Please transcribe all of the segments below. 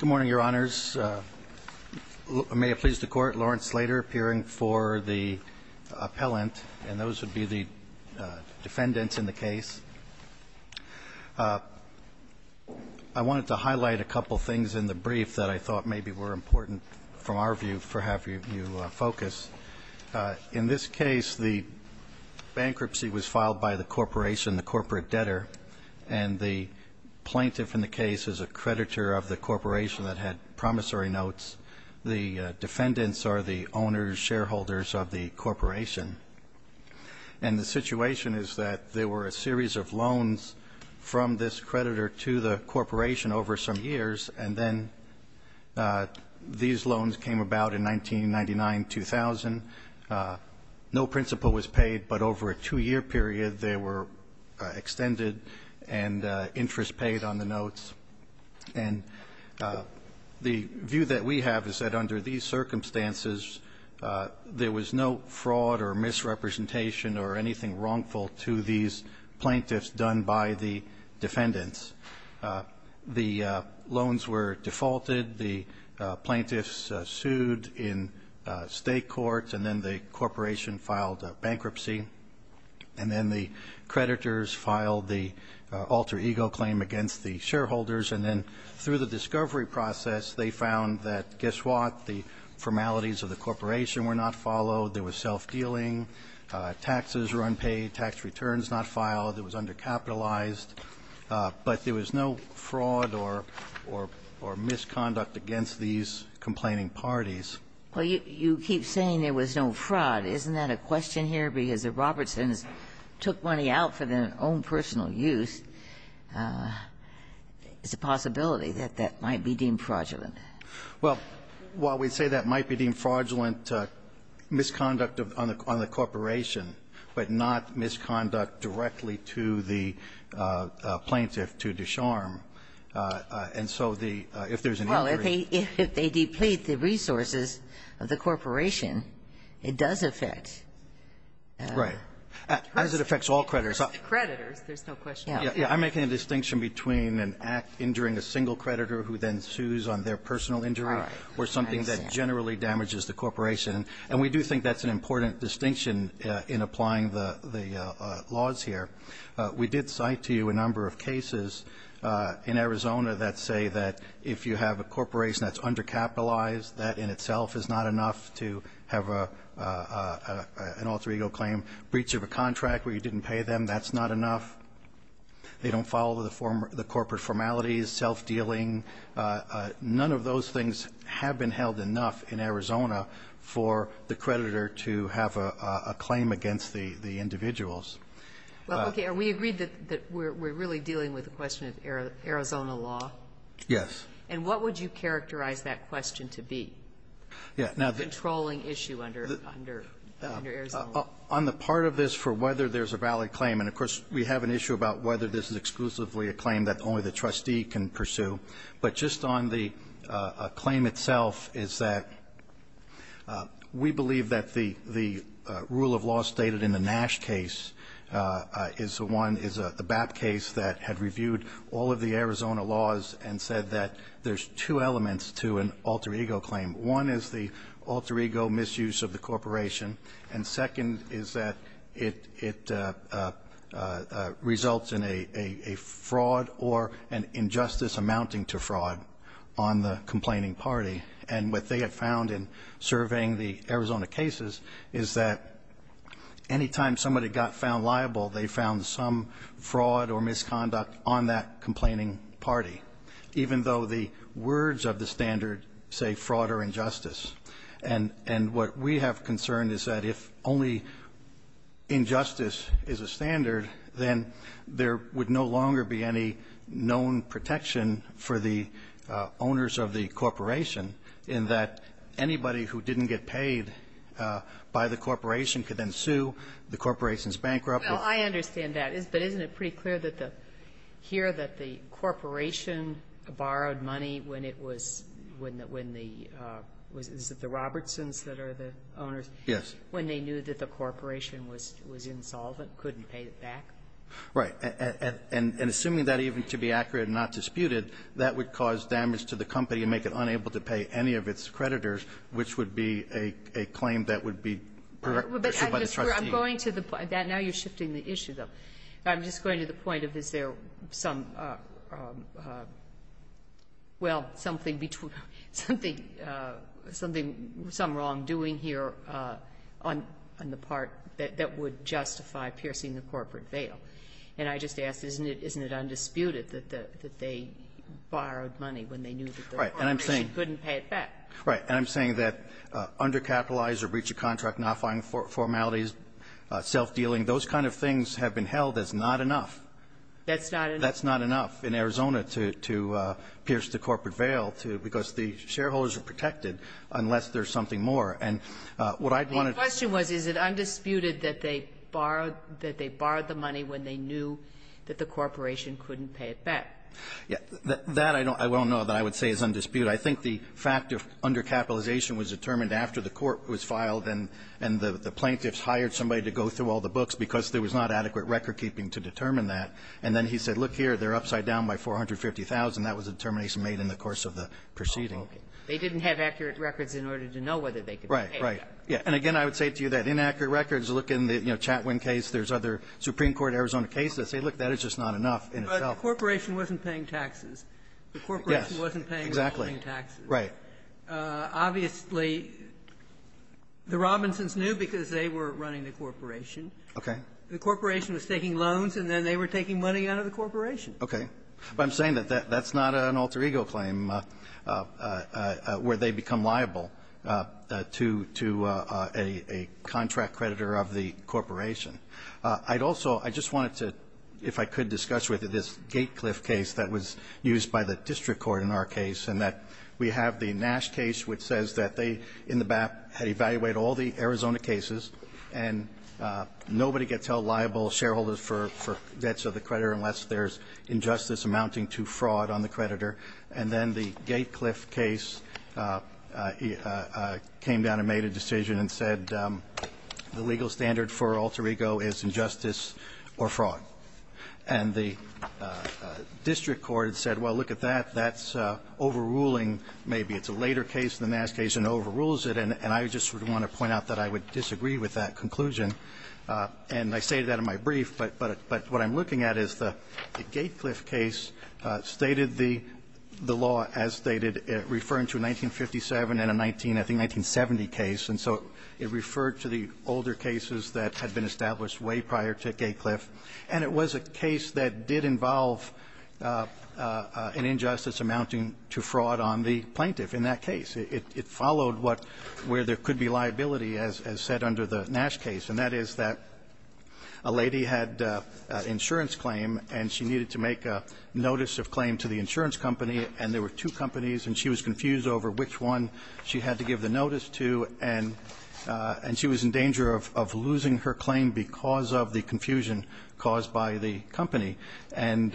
Good morning, Your Honors. May it please the Court, Lawrence Slater appearing for the appellant, and those would be the defendants in the case. I wanted to highlight a couple things in the brief that I thought maybe were important, from our view, for having you focus. In this case, the bankruptcy was filed by the corporation, the corporate debtor, and the plaintiff in the case is a creditor of the corporation that had promissory notes. The defendants are the owners, shareholders of the corporation, and the situation is that there were a series of loans from this creditor to the corporation over some years, and then these loans came about in 1999-2000. No principal was paid, but over a two-year period, they were extended and interest paid on the notes. And the view that we have is that under these circumstances, there was no fraud or misrepresentation or anything wrongful to these plaintiffs done by the defendants. The loans were defaulted. The plaintiffs sued in state court, and then the corporation filed bankruptcy, and then the creditors filed the alter ego claim against the shareholders. And then through the discovery process, they found that guess what? The formalities of the corporation were not followed. There was self-dealing. Taxes were unpaid. Tax returns not filed. It was undercapitalized. But there was no fraud or misconduct against these complaining parties. Well, you keep saying there was no fraud. Isn't that a question here? Because the Robertsons took money out for their own personal use. It's a possibility that that might be deemed fraudulent. Well, while we say that might be deemed fraudulent, misconduct on the corporation, but not misconduct directly to the plaintiff, to Ducharme. And so the – if there's an injury. Well, if they deplete the resources of the corporation, it does affect. Right. As it affects all creditors. Creditors, there's no question. I'm making a distinction between an act injuring a single creditor who then sues on their personal injury or something that generally damages the corporation. And we do think that's an important distinction in applying the laws here. We did cite to you a number of cases in Arizona that say that if you have a corporation that's undercapitalized, that in itself is not enough to have an alter ego claim, breach of a contract where you didn't pay them, that's not enough. They don't follow the corporate formalities, self-dealing. None of those things have been held enough in Arizona for the creditor to have a claim against the individuals. Well, okay. Are we agreed that we're really dealing with the question of Arizona law? Yes. And what would you characterize that question to be? Yeah. Controlling issue under Arizona law. On the part of this for whether there's a valid claim, and, of course, we have an issue about whether this is exclusively a claim that only the trustee can pursue, but just on the claim itself is that we believe that the rule of law stated in the Nash case is the one, is the BAP case that had reviewed all of the Arizona laws and said that there's two elements to an alter ego claim. One is the alter ego misuse of the corporation, and second is that it results in a fraud or an injustice amounting to fraud on the complaining party. And what they have found in surveying the Arizona cases is that any time somebody got found liable, they found some fraud or misconduct on that complaining party, even though the words of the standard say fraud or injustice. And what we have concerned is that if only injustice is a standard, then there would no longer be any known protection for the owners of the corporation in that anybody who didn't get paid by the corporation could then sue, the corporation's bankrupt. Sotomayor, I understand that, but isn't it pretty clear here that the corporation borrowed money when it was, when the, is it the Robertsons that are the owners? Yes. When they knew that the corporation was insolvent, couldn't pay it back? Right. And assuming that even to be accurate and not disputed, that would cause damage to the company and make it unable to pay any of its creditors, which would be a claim that would be pursued by the trustee. I'm going to the point. Now you're shifting the issue, though. I'm just going to the point of is there some, well, something between, something, some wrongdoing here on the part that would justify piercing the corporate veil. And I just ask, isn't it undisputed that they borrowed money when they knew that the corporation couldn't pay it back? Right. And I'm saying that undercapitalized or breach of contract, notifying formalities, self-dealing, those kind of things have been held as not enough. That's not enough. That's not enough in Arizona to, to pierce the corporate veil to, because the shareholders are protected unless there's something more. And what I'd want to do to. The question was, is it undisputed that they borrowed, that they borrowed the money when they knew that the corporation couldn't pay it back? Yeah. That I don't, I don't know that I would say is undisputed. I think the fact of undercapitalization was determined after the court was filed and, and the, the plaintiffs hired somebody to go through all the books because there was not adequate recordkeeping to determine that. And then he said, look here, they're upside down by 450,000. That was a determination made in the course of the proceeding. Oh, okay. They didn't have accurate records in order to know whether they could pay it back. Right. Right. Yeah. And again, I would say to you that inaccurate records, look in the, you know, Chatwin case. There's other Supreme Court Arizona cases. But the corporation wasn't paying taxes. The corporation wasn't paying taxes. Exactly. Right. Obviously, the Robinsons knew because they were running the corporation. Okay. The corporation was taking loans, and then they were taking money out of the corporation. Okay. But I'm saying that that's not an alter ego claim where they become liable to, to a, a contract creditor of the corporation. I'd also, I just wanted to, if I could discuss with you this Gatecliff case that was used by the district court in our case, and that we have the Nash case which says that they, in the BAP, had evaluated all the Arizona cases, and nobody gets held liable, shareholders, for, for debts of the creditor unless there's injustice amounting to fraud on the creditor. And then the Gatecliff case came down and made a decision and said the legal standard for alter ego is injustice or fraud. And the district court said, well, look at that. That's overruling maybe. It's a later case, the Nash case, and it overrules it. And I just sort of want to point out that I would disagree with that conclusion. And I stated that in my brief. But, but what I'm looking at is the Gatecliff case stated the, the law as stated referring to a 1957 and a 19, I think, 1970 case. And so it referred to the older cases that had been established way prior to Gatecliff. And it was a case that did involve an injustice amounting to fraud on the plaintiff in that case. It, it followed what, where there could be liability as, as said under the Nash case, and that is that a lady had an insurance claim, and she needed to make a notice of claim to the insurance company. And there were two companies, and she was confused over which one she had to give the notice to. And, and she was in danger of, of losing her claim because of the confusion caused by the company. And,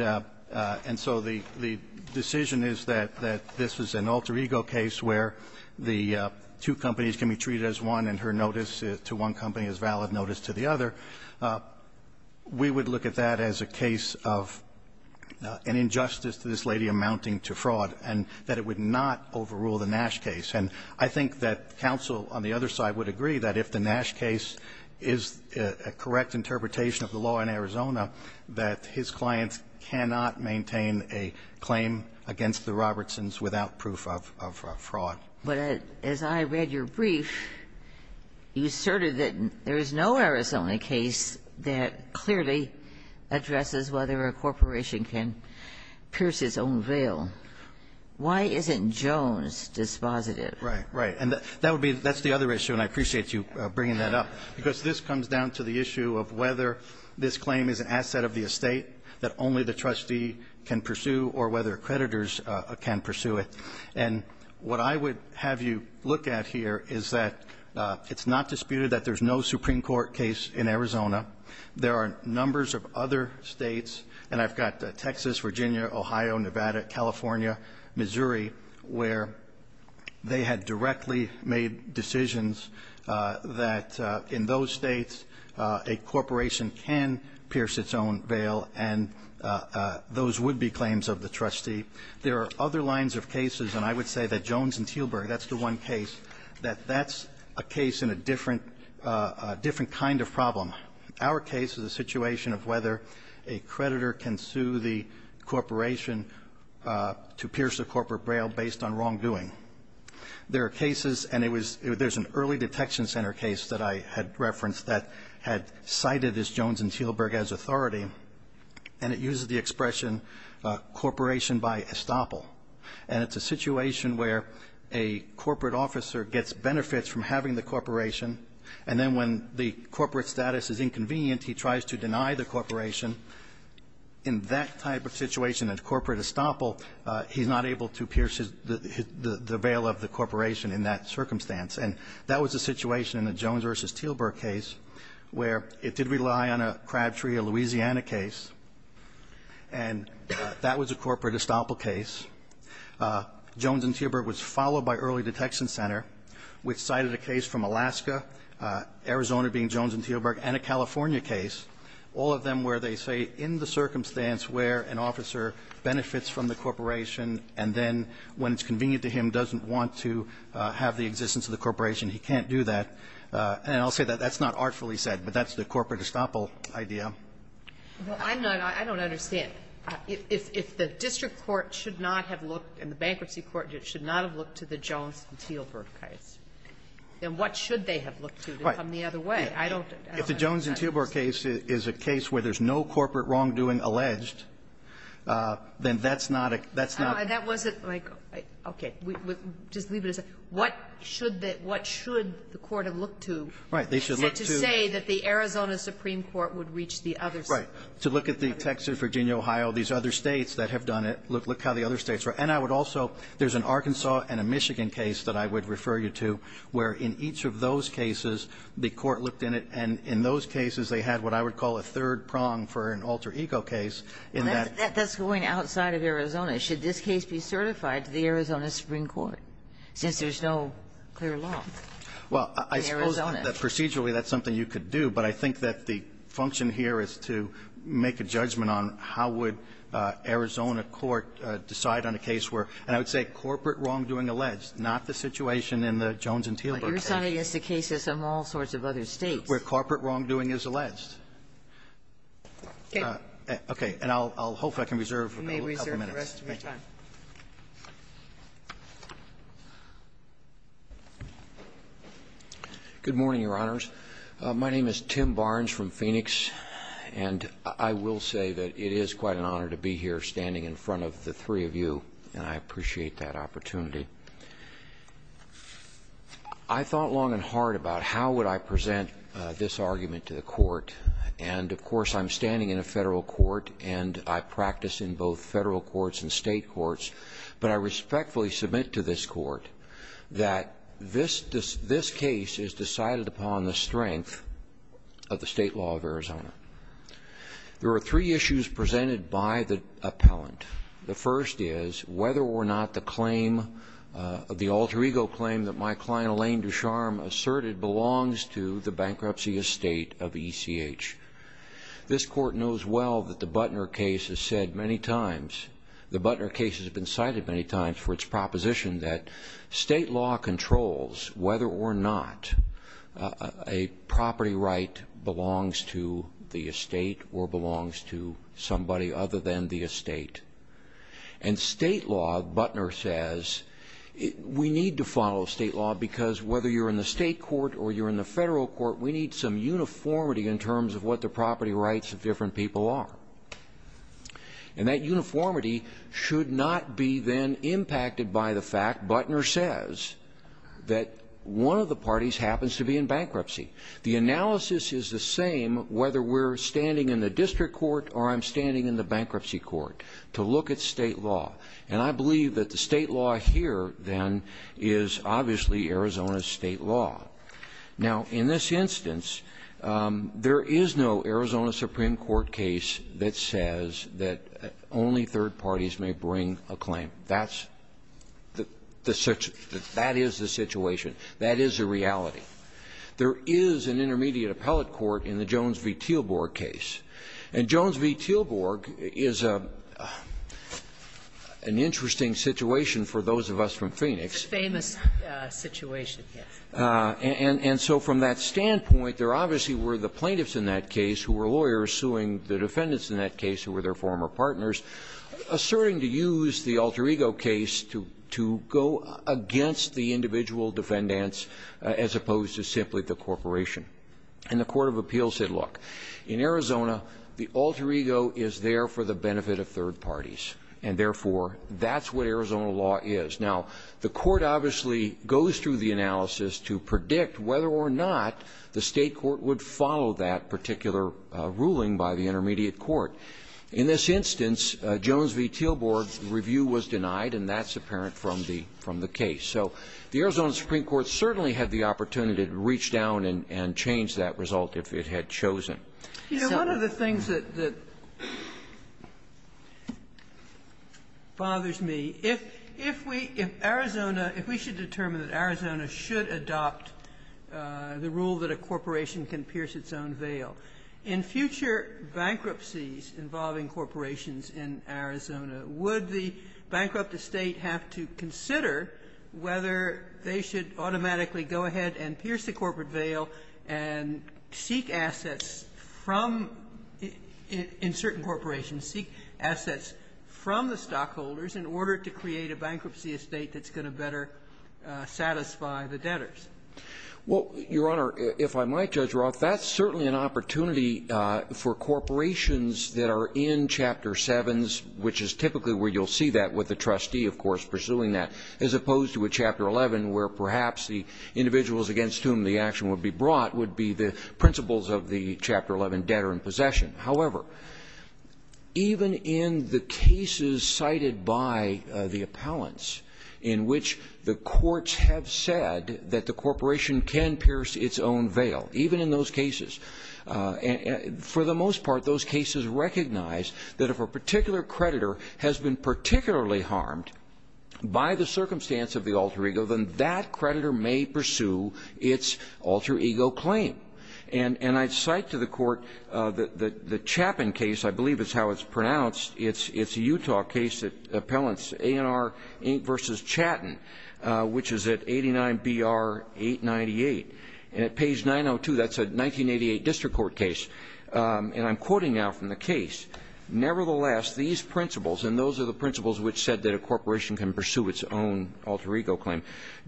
and so the, the decision is that, that this was an alter ego case where the two companies can be treated as one and her notice to one company is valid notice to the other. We would look at that as a case of an injustice to this lady amounting to fraud and that it would not overrule the Nash case. And I think that counsel on the other side would agree that if the Nash case is a correct interpretation of the law in Arizona, that his client cannot maintain a claim against the Robertsons without proof of, of fraud. But as I read your brief, you asserted that there is no Arizona case that clearly addresses whether a corporation can pierce its own veil. Why isn't Jones dispositive? Right, right. And that would be, that's the other issue, and I appreciate you bringing that up. Because this comes down to the issue of whether this claim is an asset of the estate that only the trustee can pursue or whether creditors can pursue it. And what I would have you look at here is that it's not disputed that there's no Supreme Court case in Arizona. There are numbers of other States, and I've got Texas, Virginia, Ohio, Nevada, California, Missouri, where they had directly made decisions that in those States a corporation can pierce its own veil and those would-be claims of the trustee. There are other lines of cases, and I would say that Jones and Teelburg, that's the one case, that that's a case in a different, different kind of problem. Our case is a situation of whether a creditor can sue the corporation to pierce a corporate veil based on wrongdoing. There are cases, and there's an early detection center case that I had referenced that had cited this Jones and Teelburg as authority, and it uses the expression corporation by estoppel. And it's a situation where a corporate officer gets benefits from having the corporation, and then when the corporate status is inconvenient, he tries to deny the corporation. In that type of situation, a corporate estoppel, he's not able to pierce the veil of the corporation in that circumstance. And that was the situation in the Jones v. Teelburg case where it did rely on a Crabtree, a Louisiana case, and that was a corporate estoppel case. Jones and Teelburg was followed by early detection center, which cited a case from Alaska, Arizona being Jones and Teelburg, and a California case, all of them where they say in the circumstance where an officer benefits from the corporation and then when it's convenient to him doesn't want to have the existence of the corporation, he can't do that. And I'll say that that's not artfully said, but that's the corporate estoppel idea. Sotomayor, I'm not, I don't understand. If the district court should not have looked, and the bankruptcy court should not have looked to the Jones v. Teelburg case, then what should they have looked to to come the other way? I don't understand. If the Jones v. Teelburg case is a case where there's no corporate wrongdoing alleged, then that's not a, that's not a That wasn't like, okay, just leave it as a, what should the, what should the court have looked to to say that the Arizona Supreme Court would reach the other side? Right. To look at the Texas, Virginia, Ohio, these other States that have done it, look how the other States have done it. And I would also, there's an Arkansas and a Michigan case that I would refer you to where in each of those cases the court looked in it, and in those cases they had what I would call a third prong for an alter ego case in that. That's going outside of Arizona. Should this case be certified to the Arizona Supreme Court, since there's no clear law in Arizona? Well, I suppose procedurally that's something you could do, but I think that the function here is to make a judgment on how would Arizona court decide on a case where, and I would say corporate wrongdoing alleged, not the situation in the Jones and Teelburg case. But you're saying it's a case as in all sorts of other States. Where corporate wrongdoing is alleged. Okay. Okay. And I'll, I'll hope I can reserve a couple minutes. You may reserve the rest of your time. Good morning, Your Honors. My name is Tim Barnes from Phoenix, and I will say that it is quite an honor to be here standing in front of the three of you, and I appreciate that opportunity. I thought long and hard about how would I present this argument to the court. And of course, I'm standing in a federal court, and I practice in both federal courts and state courts, but I respectfully submit to this court that this, this case is decided upon the strength of the state law of Arizona. There are three issues presented by the appellant. The first is whether or not the claim of the alter ego claim that my client Elaine Ducharme asserted belongs to the bankruptcy estate of ECH. This court knows well that the Butner case has said many times, the Butner case has been cited many times for its proposition that state law controls whether or not a property right belongs to the estate or belongs to somebody other than the estate. And state law, Butner says, we need to follow state law because whether you're in the state court or you're in the federal court, we need some uniformity in terms of what the property rights of different people are. And that uniformity should not be then impacted by the fact, Butner says, that one of the parties happens to be in bankruptcy. The analysis is the same whether we're standing in the district court or I'm standing in the bankruptcy court to look at state law. And I believe that the state law here, then, is obviously Arizona's state law. Now, in this instance, there is no Arizona Supreme Court case that says that only third parties may bring a claim. That's the the such that is the situation. That is a reality. There is an intermediate appellate court in the Jones v. Teelborg case. And Jones v. Teelborg is an interesting situation for those of us from Phoenix. It's a famous situation, yes. And so from that standpoint, there obviously were the plaintiffs in that case who were lawyers suing the defendants in that case who were their former partners, asserting to use the Alter Ego case to go against the individual defendants as opposed to simply the corporation. And the court of appeals said, look, in Arizona, the Alter Ego is there for the benefit of third parties, and therefore, that's what Arizona law is. Now, the court obviously goes through the analysis to predict whether or not the state court would follow that particular ruling by the intermediate court. In this instance, Jones v. Teelborg's review was denied, and that's apparent from the case. So the Arizona Supreme Court certainly had the opportunity to reach down and change that result if it had chosen. Sotomayor, one of the things that bothers me, if we, if Arizona, if we should determine that Arizona should adopt the rule that a corporation can pierce its own veil, in future bankruptcies involving corporations in Arizona, would the bankrupt state have to consider whether they should automatically go ahead and pierce the corporate veil and seek assets from, in certain corporations, seek assets from the stockholders in order to create a bankruptcy estate that's going to better satisfy the debtors? Well, Your Honor, if I might, Judge Roth, that's certainly an opportunity for corporations that are in Chapter 7s, which is typically where you'll see that with the trustee, of course, pursuing that, as opposed to a Chapter 11 where perhaps the individuals against whom the action would be brought would be the principles of the Chapter 11 debtor in possession. However, even in the cases cited by the appellants in which the courts have said that the corporation can pierce its own veil, even in those cases, for the most part, those cases recognize that if a particular creditor has been particularly harmed by the corporation, the corporation may pursue its alter ego claim. And I cite to the Court the Chappin case, I believe is how it's pronounced. It's a Utah case, appellants A&R versus Chatton, which is at 89-BR-898. And at page 902, that's a 1988 district court case. And I'm quoting now from the case. Nevertheless, these principles, and those are the principles which said that a corporation can pursue its own alter ego claim,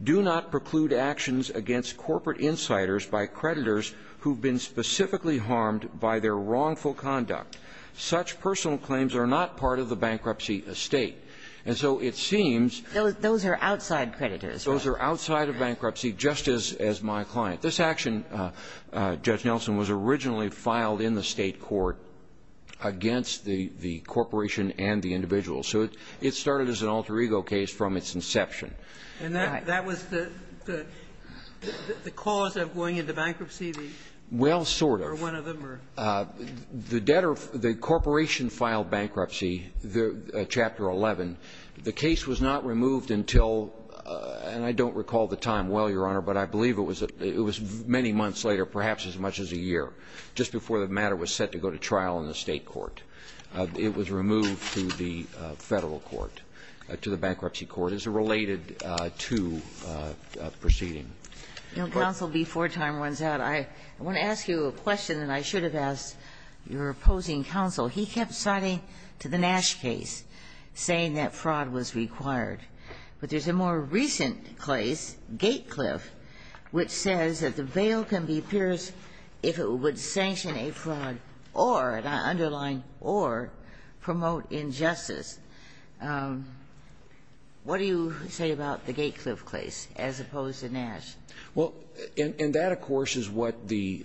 do not preclude actions against corporate insiders by creditors who've been specifically harmed by their wrongful conduct. Such personal claims are not part of the bankruptcy estate. And so it seems that those are outside creditors. Those are outside of bankruptcy, just as my client. This action, Judge Nelson, was originally filed in the State court against the corporation and the individual. So it started as an alter ego case from its inception. And that was the cause of going into bankruptcy? Well, sort of. Or one of them? The debtor, the corporation filed bankruptcy, Chapter 11. The case was not removed until, and I don't recall the time well, Your Honor, but I believe it was many months later, perhaps as much as a year, just before the matter was set to go to trial in the State court. It was removed to the Federal court, to the bankruptcy court. It's related to the proceeding. Counsel, before time runs out, I want to ask you a question that I should have asked your opposing counsel. He kept citing to the Nash case, saying that fraud was required. But there's a more recent case, Gatecliff, which says that the bail can be pierced if it would sanction a fraud or an underlying or promote injustice. What do you say about the Gatecliff case as opposed to Nash? Well, and that, of course, is what the,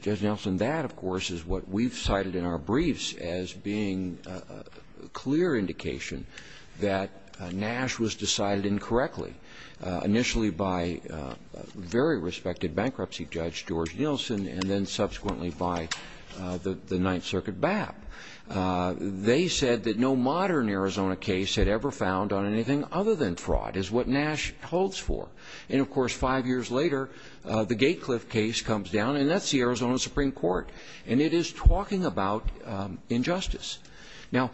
Judge Nelson, that, of course, is what we've cited in our briefs as being a clear indication that Nash was decided incorrectly, initially by a very respected bankruptcy judge, George Nelson, and then subsequently by the Ninth Circuit BAP. They said that no modern Arizona case had ever found on anything other than fraud, is what Nash holds for. And, of course, five years later, the Gatecliff case comes down, and that's the Arizona Supreme Court. And it is talking about injustice. Now,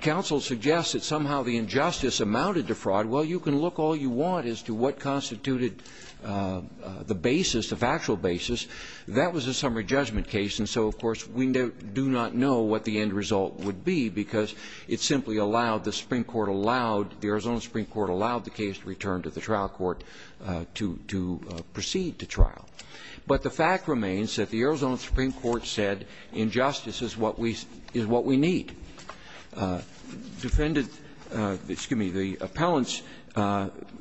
counsel suggests that somehow the injustice amounted to fraud. Well, you can look all you want as to what constituted the basis, the factual basis. That was a summary judgment case. And so, of course, we do not know what the end result would be, because it simply allowed, the Supreme Court allowed, the Arizona Supreme Court allowed the case to return to the trial court to proceed to trial. But the fact remains that the Arizona Supreme Court said injustice is what we need. The defendants, excuse me, the appellants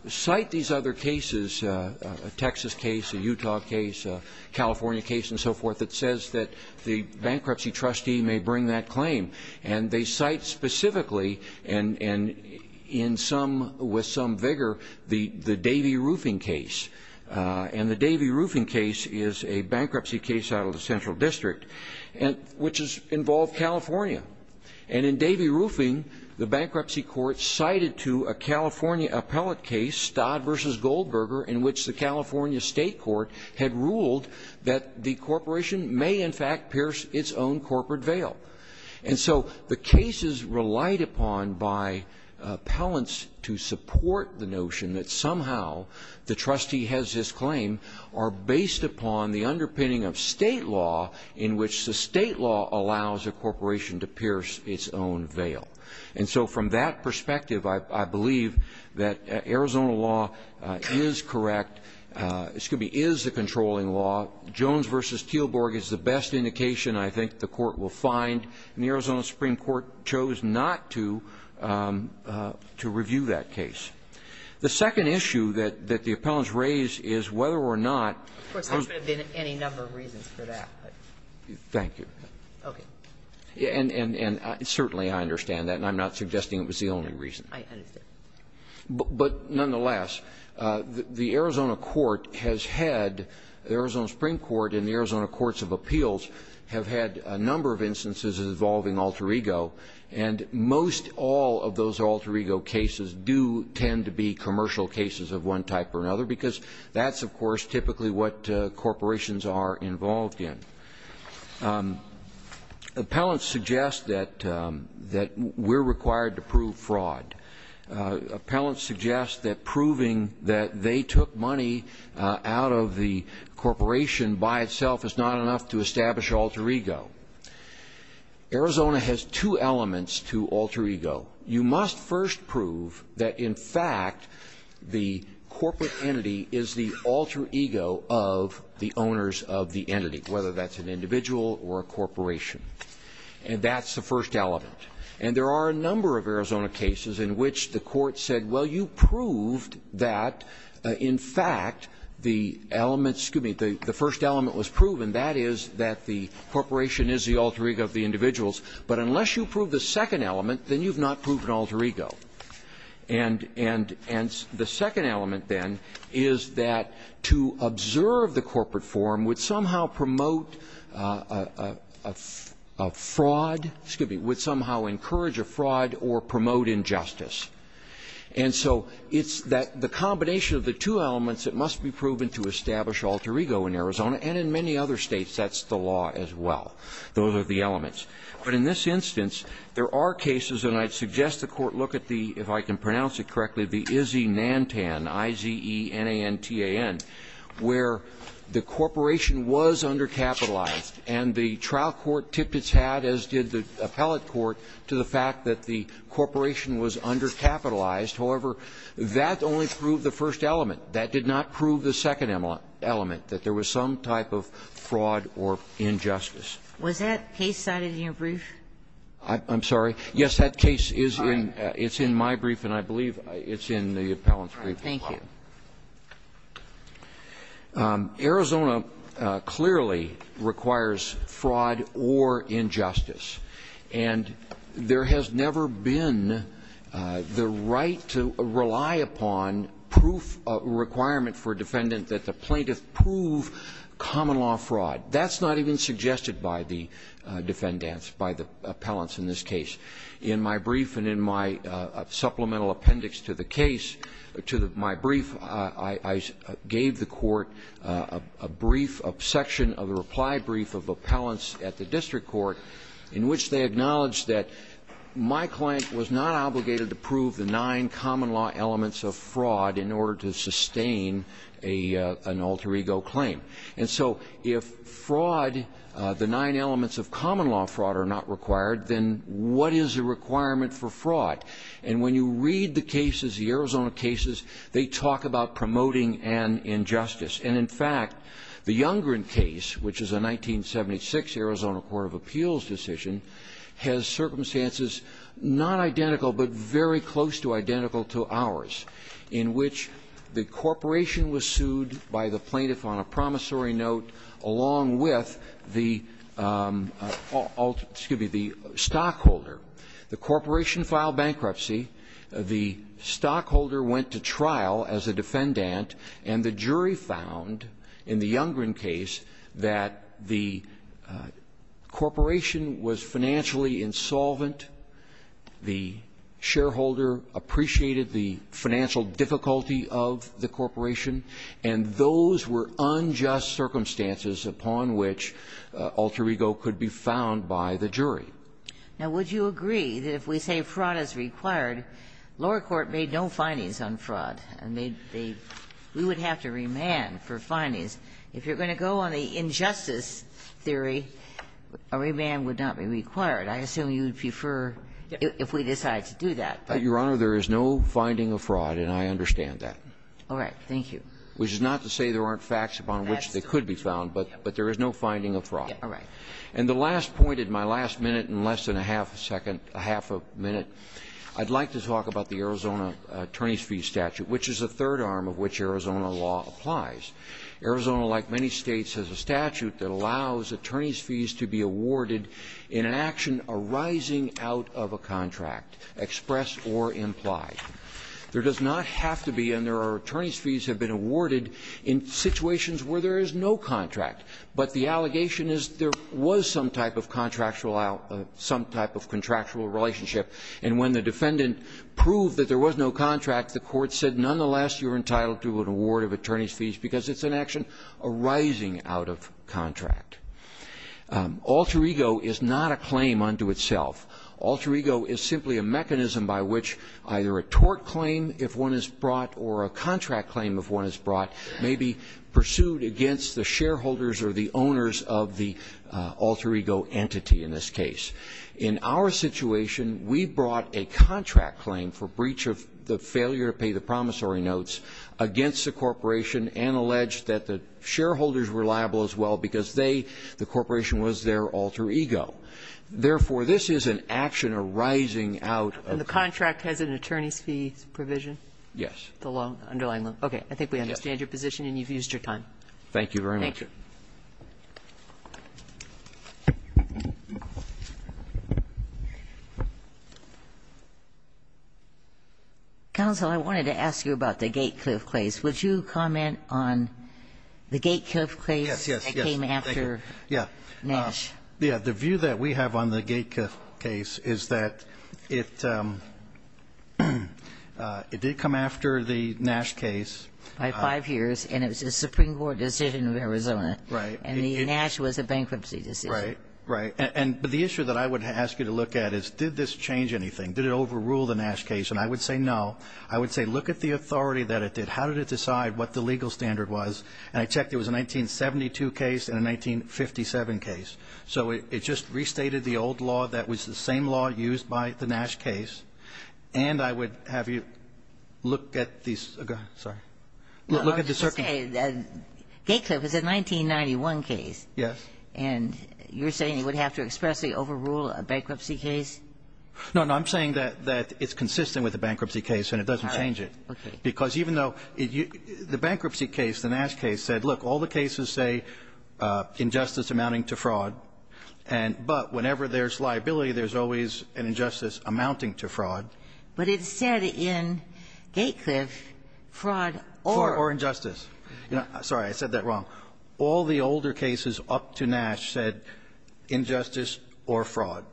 cite these other cases, a Texas case, a Utah case, a California case, and so forth, that says that the bankruptcy trustee may bring that claim. And they cite specifically, and in some, with some vigor, the Davey Roofing case. And the Davey Roofing case is a bankruptcy case out of the Central District, which involved California. And in Davey Roofing, the bankruptcy court cited to a California appellate case, Stodd v. Goldberger, in which the California State Court had ruled that the corporation may, in fact, pierce its own corporate veil. And so the cases relied upon by appellants to support the notion that somehow the trustee has his claim are based upon the underpinning of state law in which the state law allows a corporation to pierce its own veil. And so from that perspective, I believe that Arizona law is correct, excuse me, is the controlling law. Jones v. Teelborg is the best indication I think the court will find. And the Arizona Supreme Court chose not to review that case. The second issue that the appellants raise is whether or not — Of course, there should have been any number of reasons for that. Thank you. Okay. And certainly I understand that, and I'm not suggesting it was the only reason. I understand. But nonetheless, the Arizona court has had — the Arizona Supreme Court and the Arizona courts of appeals have had a number of instances involving alter ego, and most all of those alter ego cases do tend to be commercial cases of one type or another, because that's, of course, typically what corporations are involved in. Appellants suggest that we're required to prove fraud. Appellants suggest that proving that they took money out of the corporation by itself is not enough to establish alter ego. Arizona has two elements to alter ego. You must first prove that, in fact, the corporate entity is the alter ego of the owners of the entity, whether that's an individual or a corporation. And that's the first element. And there are a number of Arizona cases in which the court said, well, you proved that, in fact, the element — excuse me — the first element was proven, and that is that the corporation is the alter ego of the individuals. But unless you prove the second element, then you've not proved an alter ego. And — and the second element, then, is that to observe the corporate form would somehow promote a fraud — excuse me — would somehow encourage a fraud or promote injustice. And so it's that — the combination of the two elements that must be proven to establish alter ego in Arizona, and in many other states, that's the law as well. Those are the elements. But in this instance, there are cases — and I'd suggest the Court look at the — if I can pronounce it correctly — the Izzy-Nantan, I-z-e-n-a-n-t-a-n, where the corporation was undercapitalized, and the trial court tipped its hat, as did the appellate court, to the fact that the corporation was undercapitalized. However, that only proved the first element. That did not prove the second element, that there was some type of fraud or injustice. Was that case cited in your brief? I'm sorry? Yes, that case is in — it's in my brief, and I believe it's in the appellant's brief as well. All right. Thank you. Arizona clearly requires fraud or injustice. And there has never been the right to rely upon proof — a requirement for a defendant that the plaintiff prove common-law fraud. That's not even suggested by the defendants, by the appellants in this case. In my brief and in my supplemental appendix to the case — to my brief, I gave the Court a brief — a section of a reply brief of appellants at the district court in which they acknowledged that my client was not obligated to prove the nine common-law elements of fraud in order to sustain an alter ego claim. And so, if fraud — the nine elements of common-law fraud are not required, then what is the requirement for fraud? And when you read the cases, the Arizona cases, they talk about promoting an injustice. And in fact, the Youngren case, which is a 1976 Arizona court of appeals decision, has circumstances not identical but very close to identical to ours, in which the plaintiff made a promissory note along with the — excuse me — the stockholder. The corporation filed bankruptcy. The stockholder went to trial as a defendant. And the jury found, in the Youngren case, that the corporation was financially insolvent. The shareholder appreciated the financial difficulty of the corporation. And those were unjust circumstances upon which alter ego could be found by the jury. Now, would you agree that if we say fraud is required, lower court made no findings on fraud and made the — we would have to remand for findings. If you're going to go on the injustice theory, a remand would not be required. I assume you'd prefer if we decide to do that. Your Honor, there is no finding of fraud, and I understand that. All right. Thank you. Which is not to say there aren't facts upon which they could be found, but there is no finding of fraud. All right. And the last point in my last minute in less than a half a second — a half a minute, I'd like to talk about the Arizona attorneys' fees statute, which is the third arm of which Arizona law applies. Arizona, like many states, has a statute that allows attorneys' fees to be awarded in an action arising out of a contract, expressed or implied. There does not have to be, and there are attorneys' fees have been awarded in situations where there is no contract, but the allegation is there was some type of contractual — some type of contractual relationship, and when the defendant proved that there was no contract, the court said nonetheless you're entitled to an award of attorneys' fees because it's an action arising out of contract. Alter ego is not a claim unto itself. Alter ego is simply a mechanism by which either a tort claim, if one is brought, or a contract claim, if one is brought, may be pursued against the shareholders or the owners of the alter ego entity in this case. In our situation, we brought a contract claim for breach of the failure to pay the promissory notes against the corporation and alleged that the shareholders were liable as well because they — the corporation was their alter ego. Therefore, this is an action arising out of the contract. And the contract has an attorneys' fees provision? Yes. The loan, underlying loan. Okay. I think we understand your position and you've used your time. Thank you very much. Thank you. Counsel, I wanted to ask you about the gate cliff claims. Would you comment on the gate cliff claims that came after Nash? Yeah. The view that we have on the gate cliff case is that it — it did come after the Nash case. By five years, and it was a Supreme Court decision in Arizona. Right. And the Nash was a bankruptcy decision. Right. Right. And — but the issue that I would ask you to look at is did this change anything? Did it overrule the Nash case? And I would say no. I would say look at the authority that it did. How did it decide what the legal standard was? And I checked. It was a 1972 case and a 1957 case. So it just restated the old law that was the same law used by the Nash case. And I would have you look at these — sorry. Well, I was just going to say that gate cliff is a 1991 case. Yes. And you're saying it would have to expressly overrule a bankruptcy case? No, no. I'm saying that it's consistent with the bankruptcy case and it doesn't change it. All right. Okay. Because even though — the bankruptcy case, the Nash case said, look, all the cases say injustice amounting to fraud, and — but whenever there's liability, there's always an injustice amounting to fraud. But it said in gate cliff fraud or — Or injustice. Sorry. I said that wrong. All the older cases up to Nash said injustice or fraud.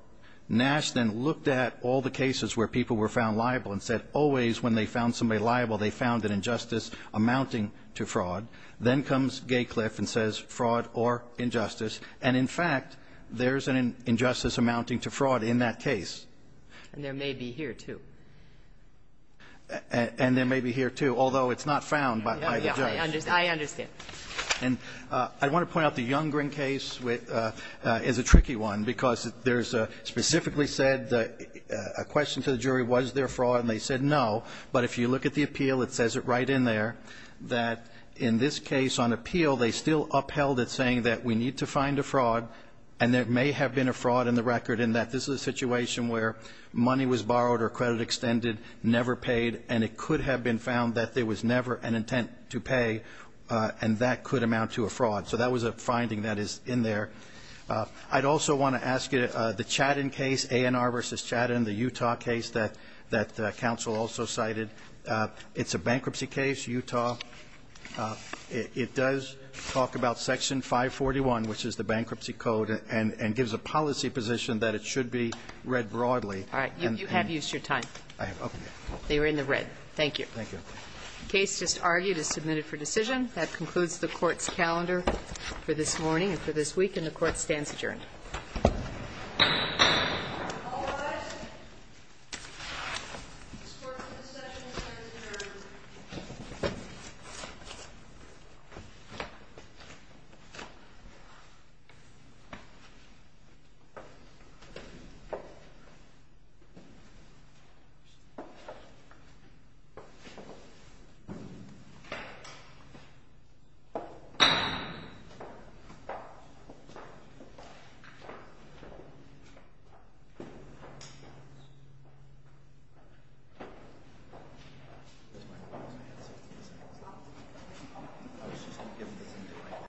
Nash then looked at all the cases where people were found liable and said always when they found somebody liable, they found an injustice amounting to fraud. Then comes gate cliff and says fraud or injustice. And in fact, there's an injustice amounting to fraud in that case. And there may be here, too. And there may be here, too, although it's not found by the judge. I understand. And I want to point out the Younggreen case is a tricky one because there's a — specifically said a question to the jury, was there fraud, and they said no. But if you look at the appeal, it says it right in there that in this case on appeal, they still upheld it saying that we need to find a fraud, and there may have been a fraud in the record in that this is a situation where money was borrowed or credit extended, never paid, and it could have been found that there was never an intent to pay, and that could amount to a fraud. So that was a finding that is in there. I'd also want to ask you, the Chatham case, A&R versus Chatham, the Utah case that counsel also cited, it's a bankruptcy case, Utah. It does talk about Section 541, which is the bankruptcy code, and gives a policy position that it should be read broadly. All right. You have used your time. I have. Okay. They were in the red. Thank you. Thank you. The case just argued is submitted for decision. That concludes the Court's calendar for this morning and for this week, and the Court stands adjourned. This court is in session and stands adjourned. Thank you.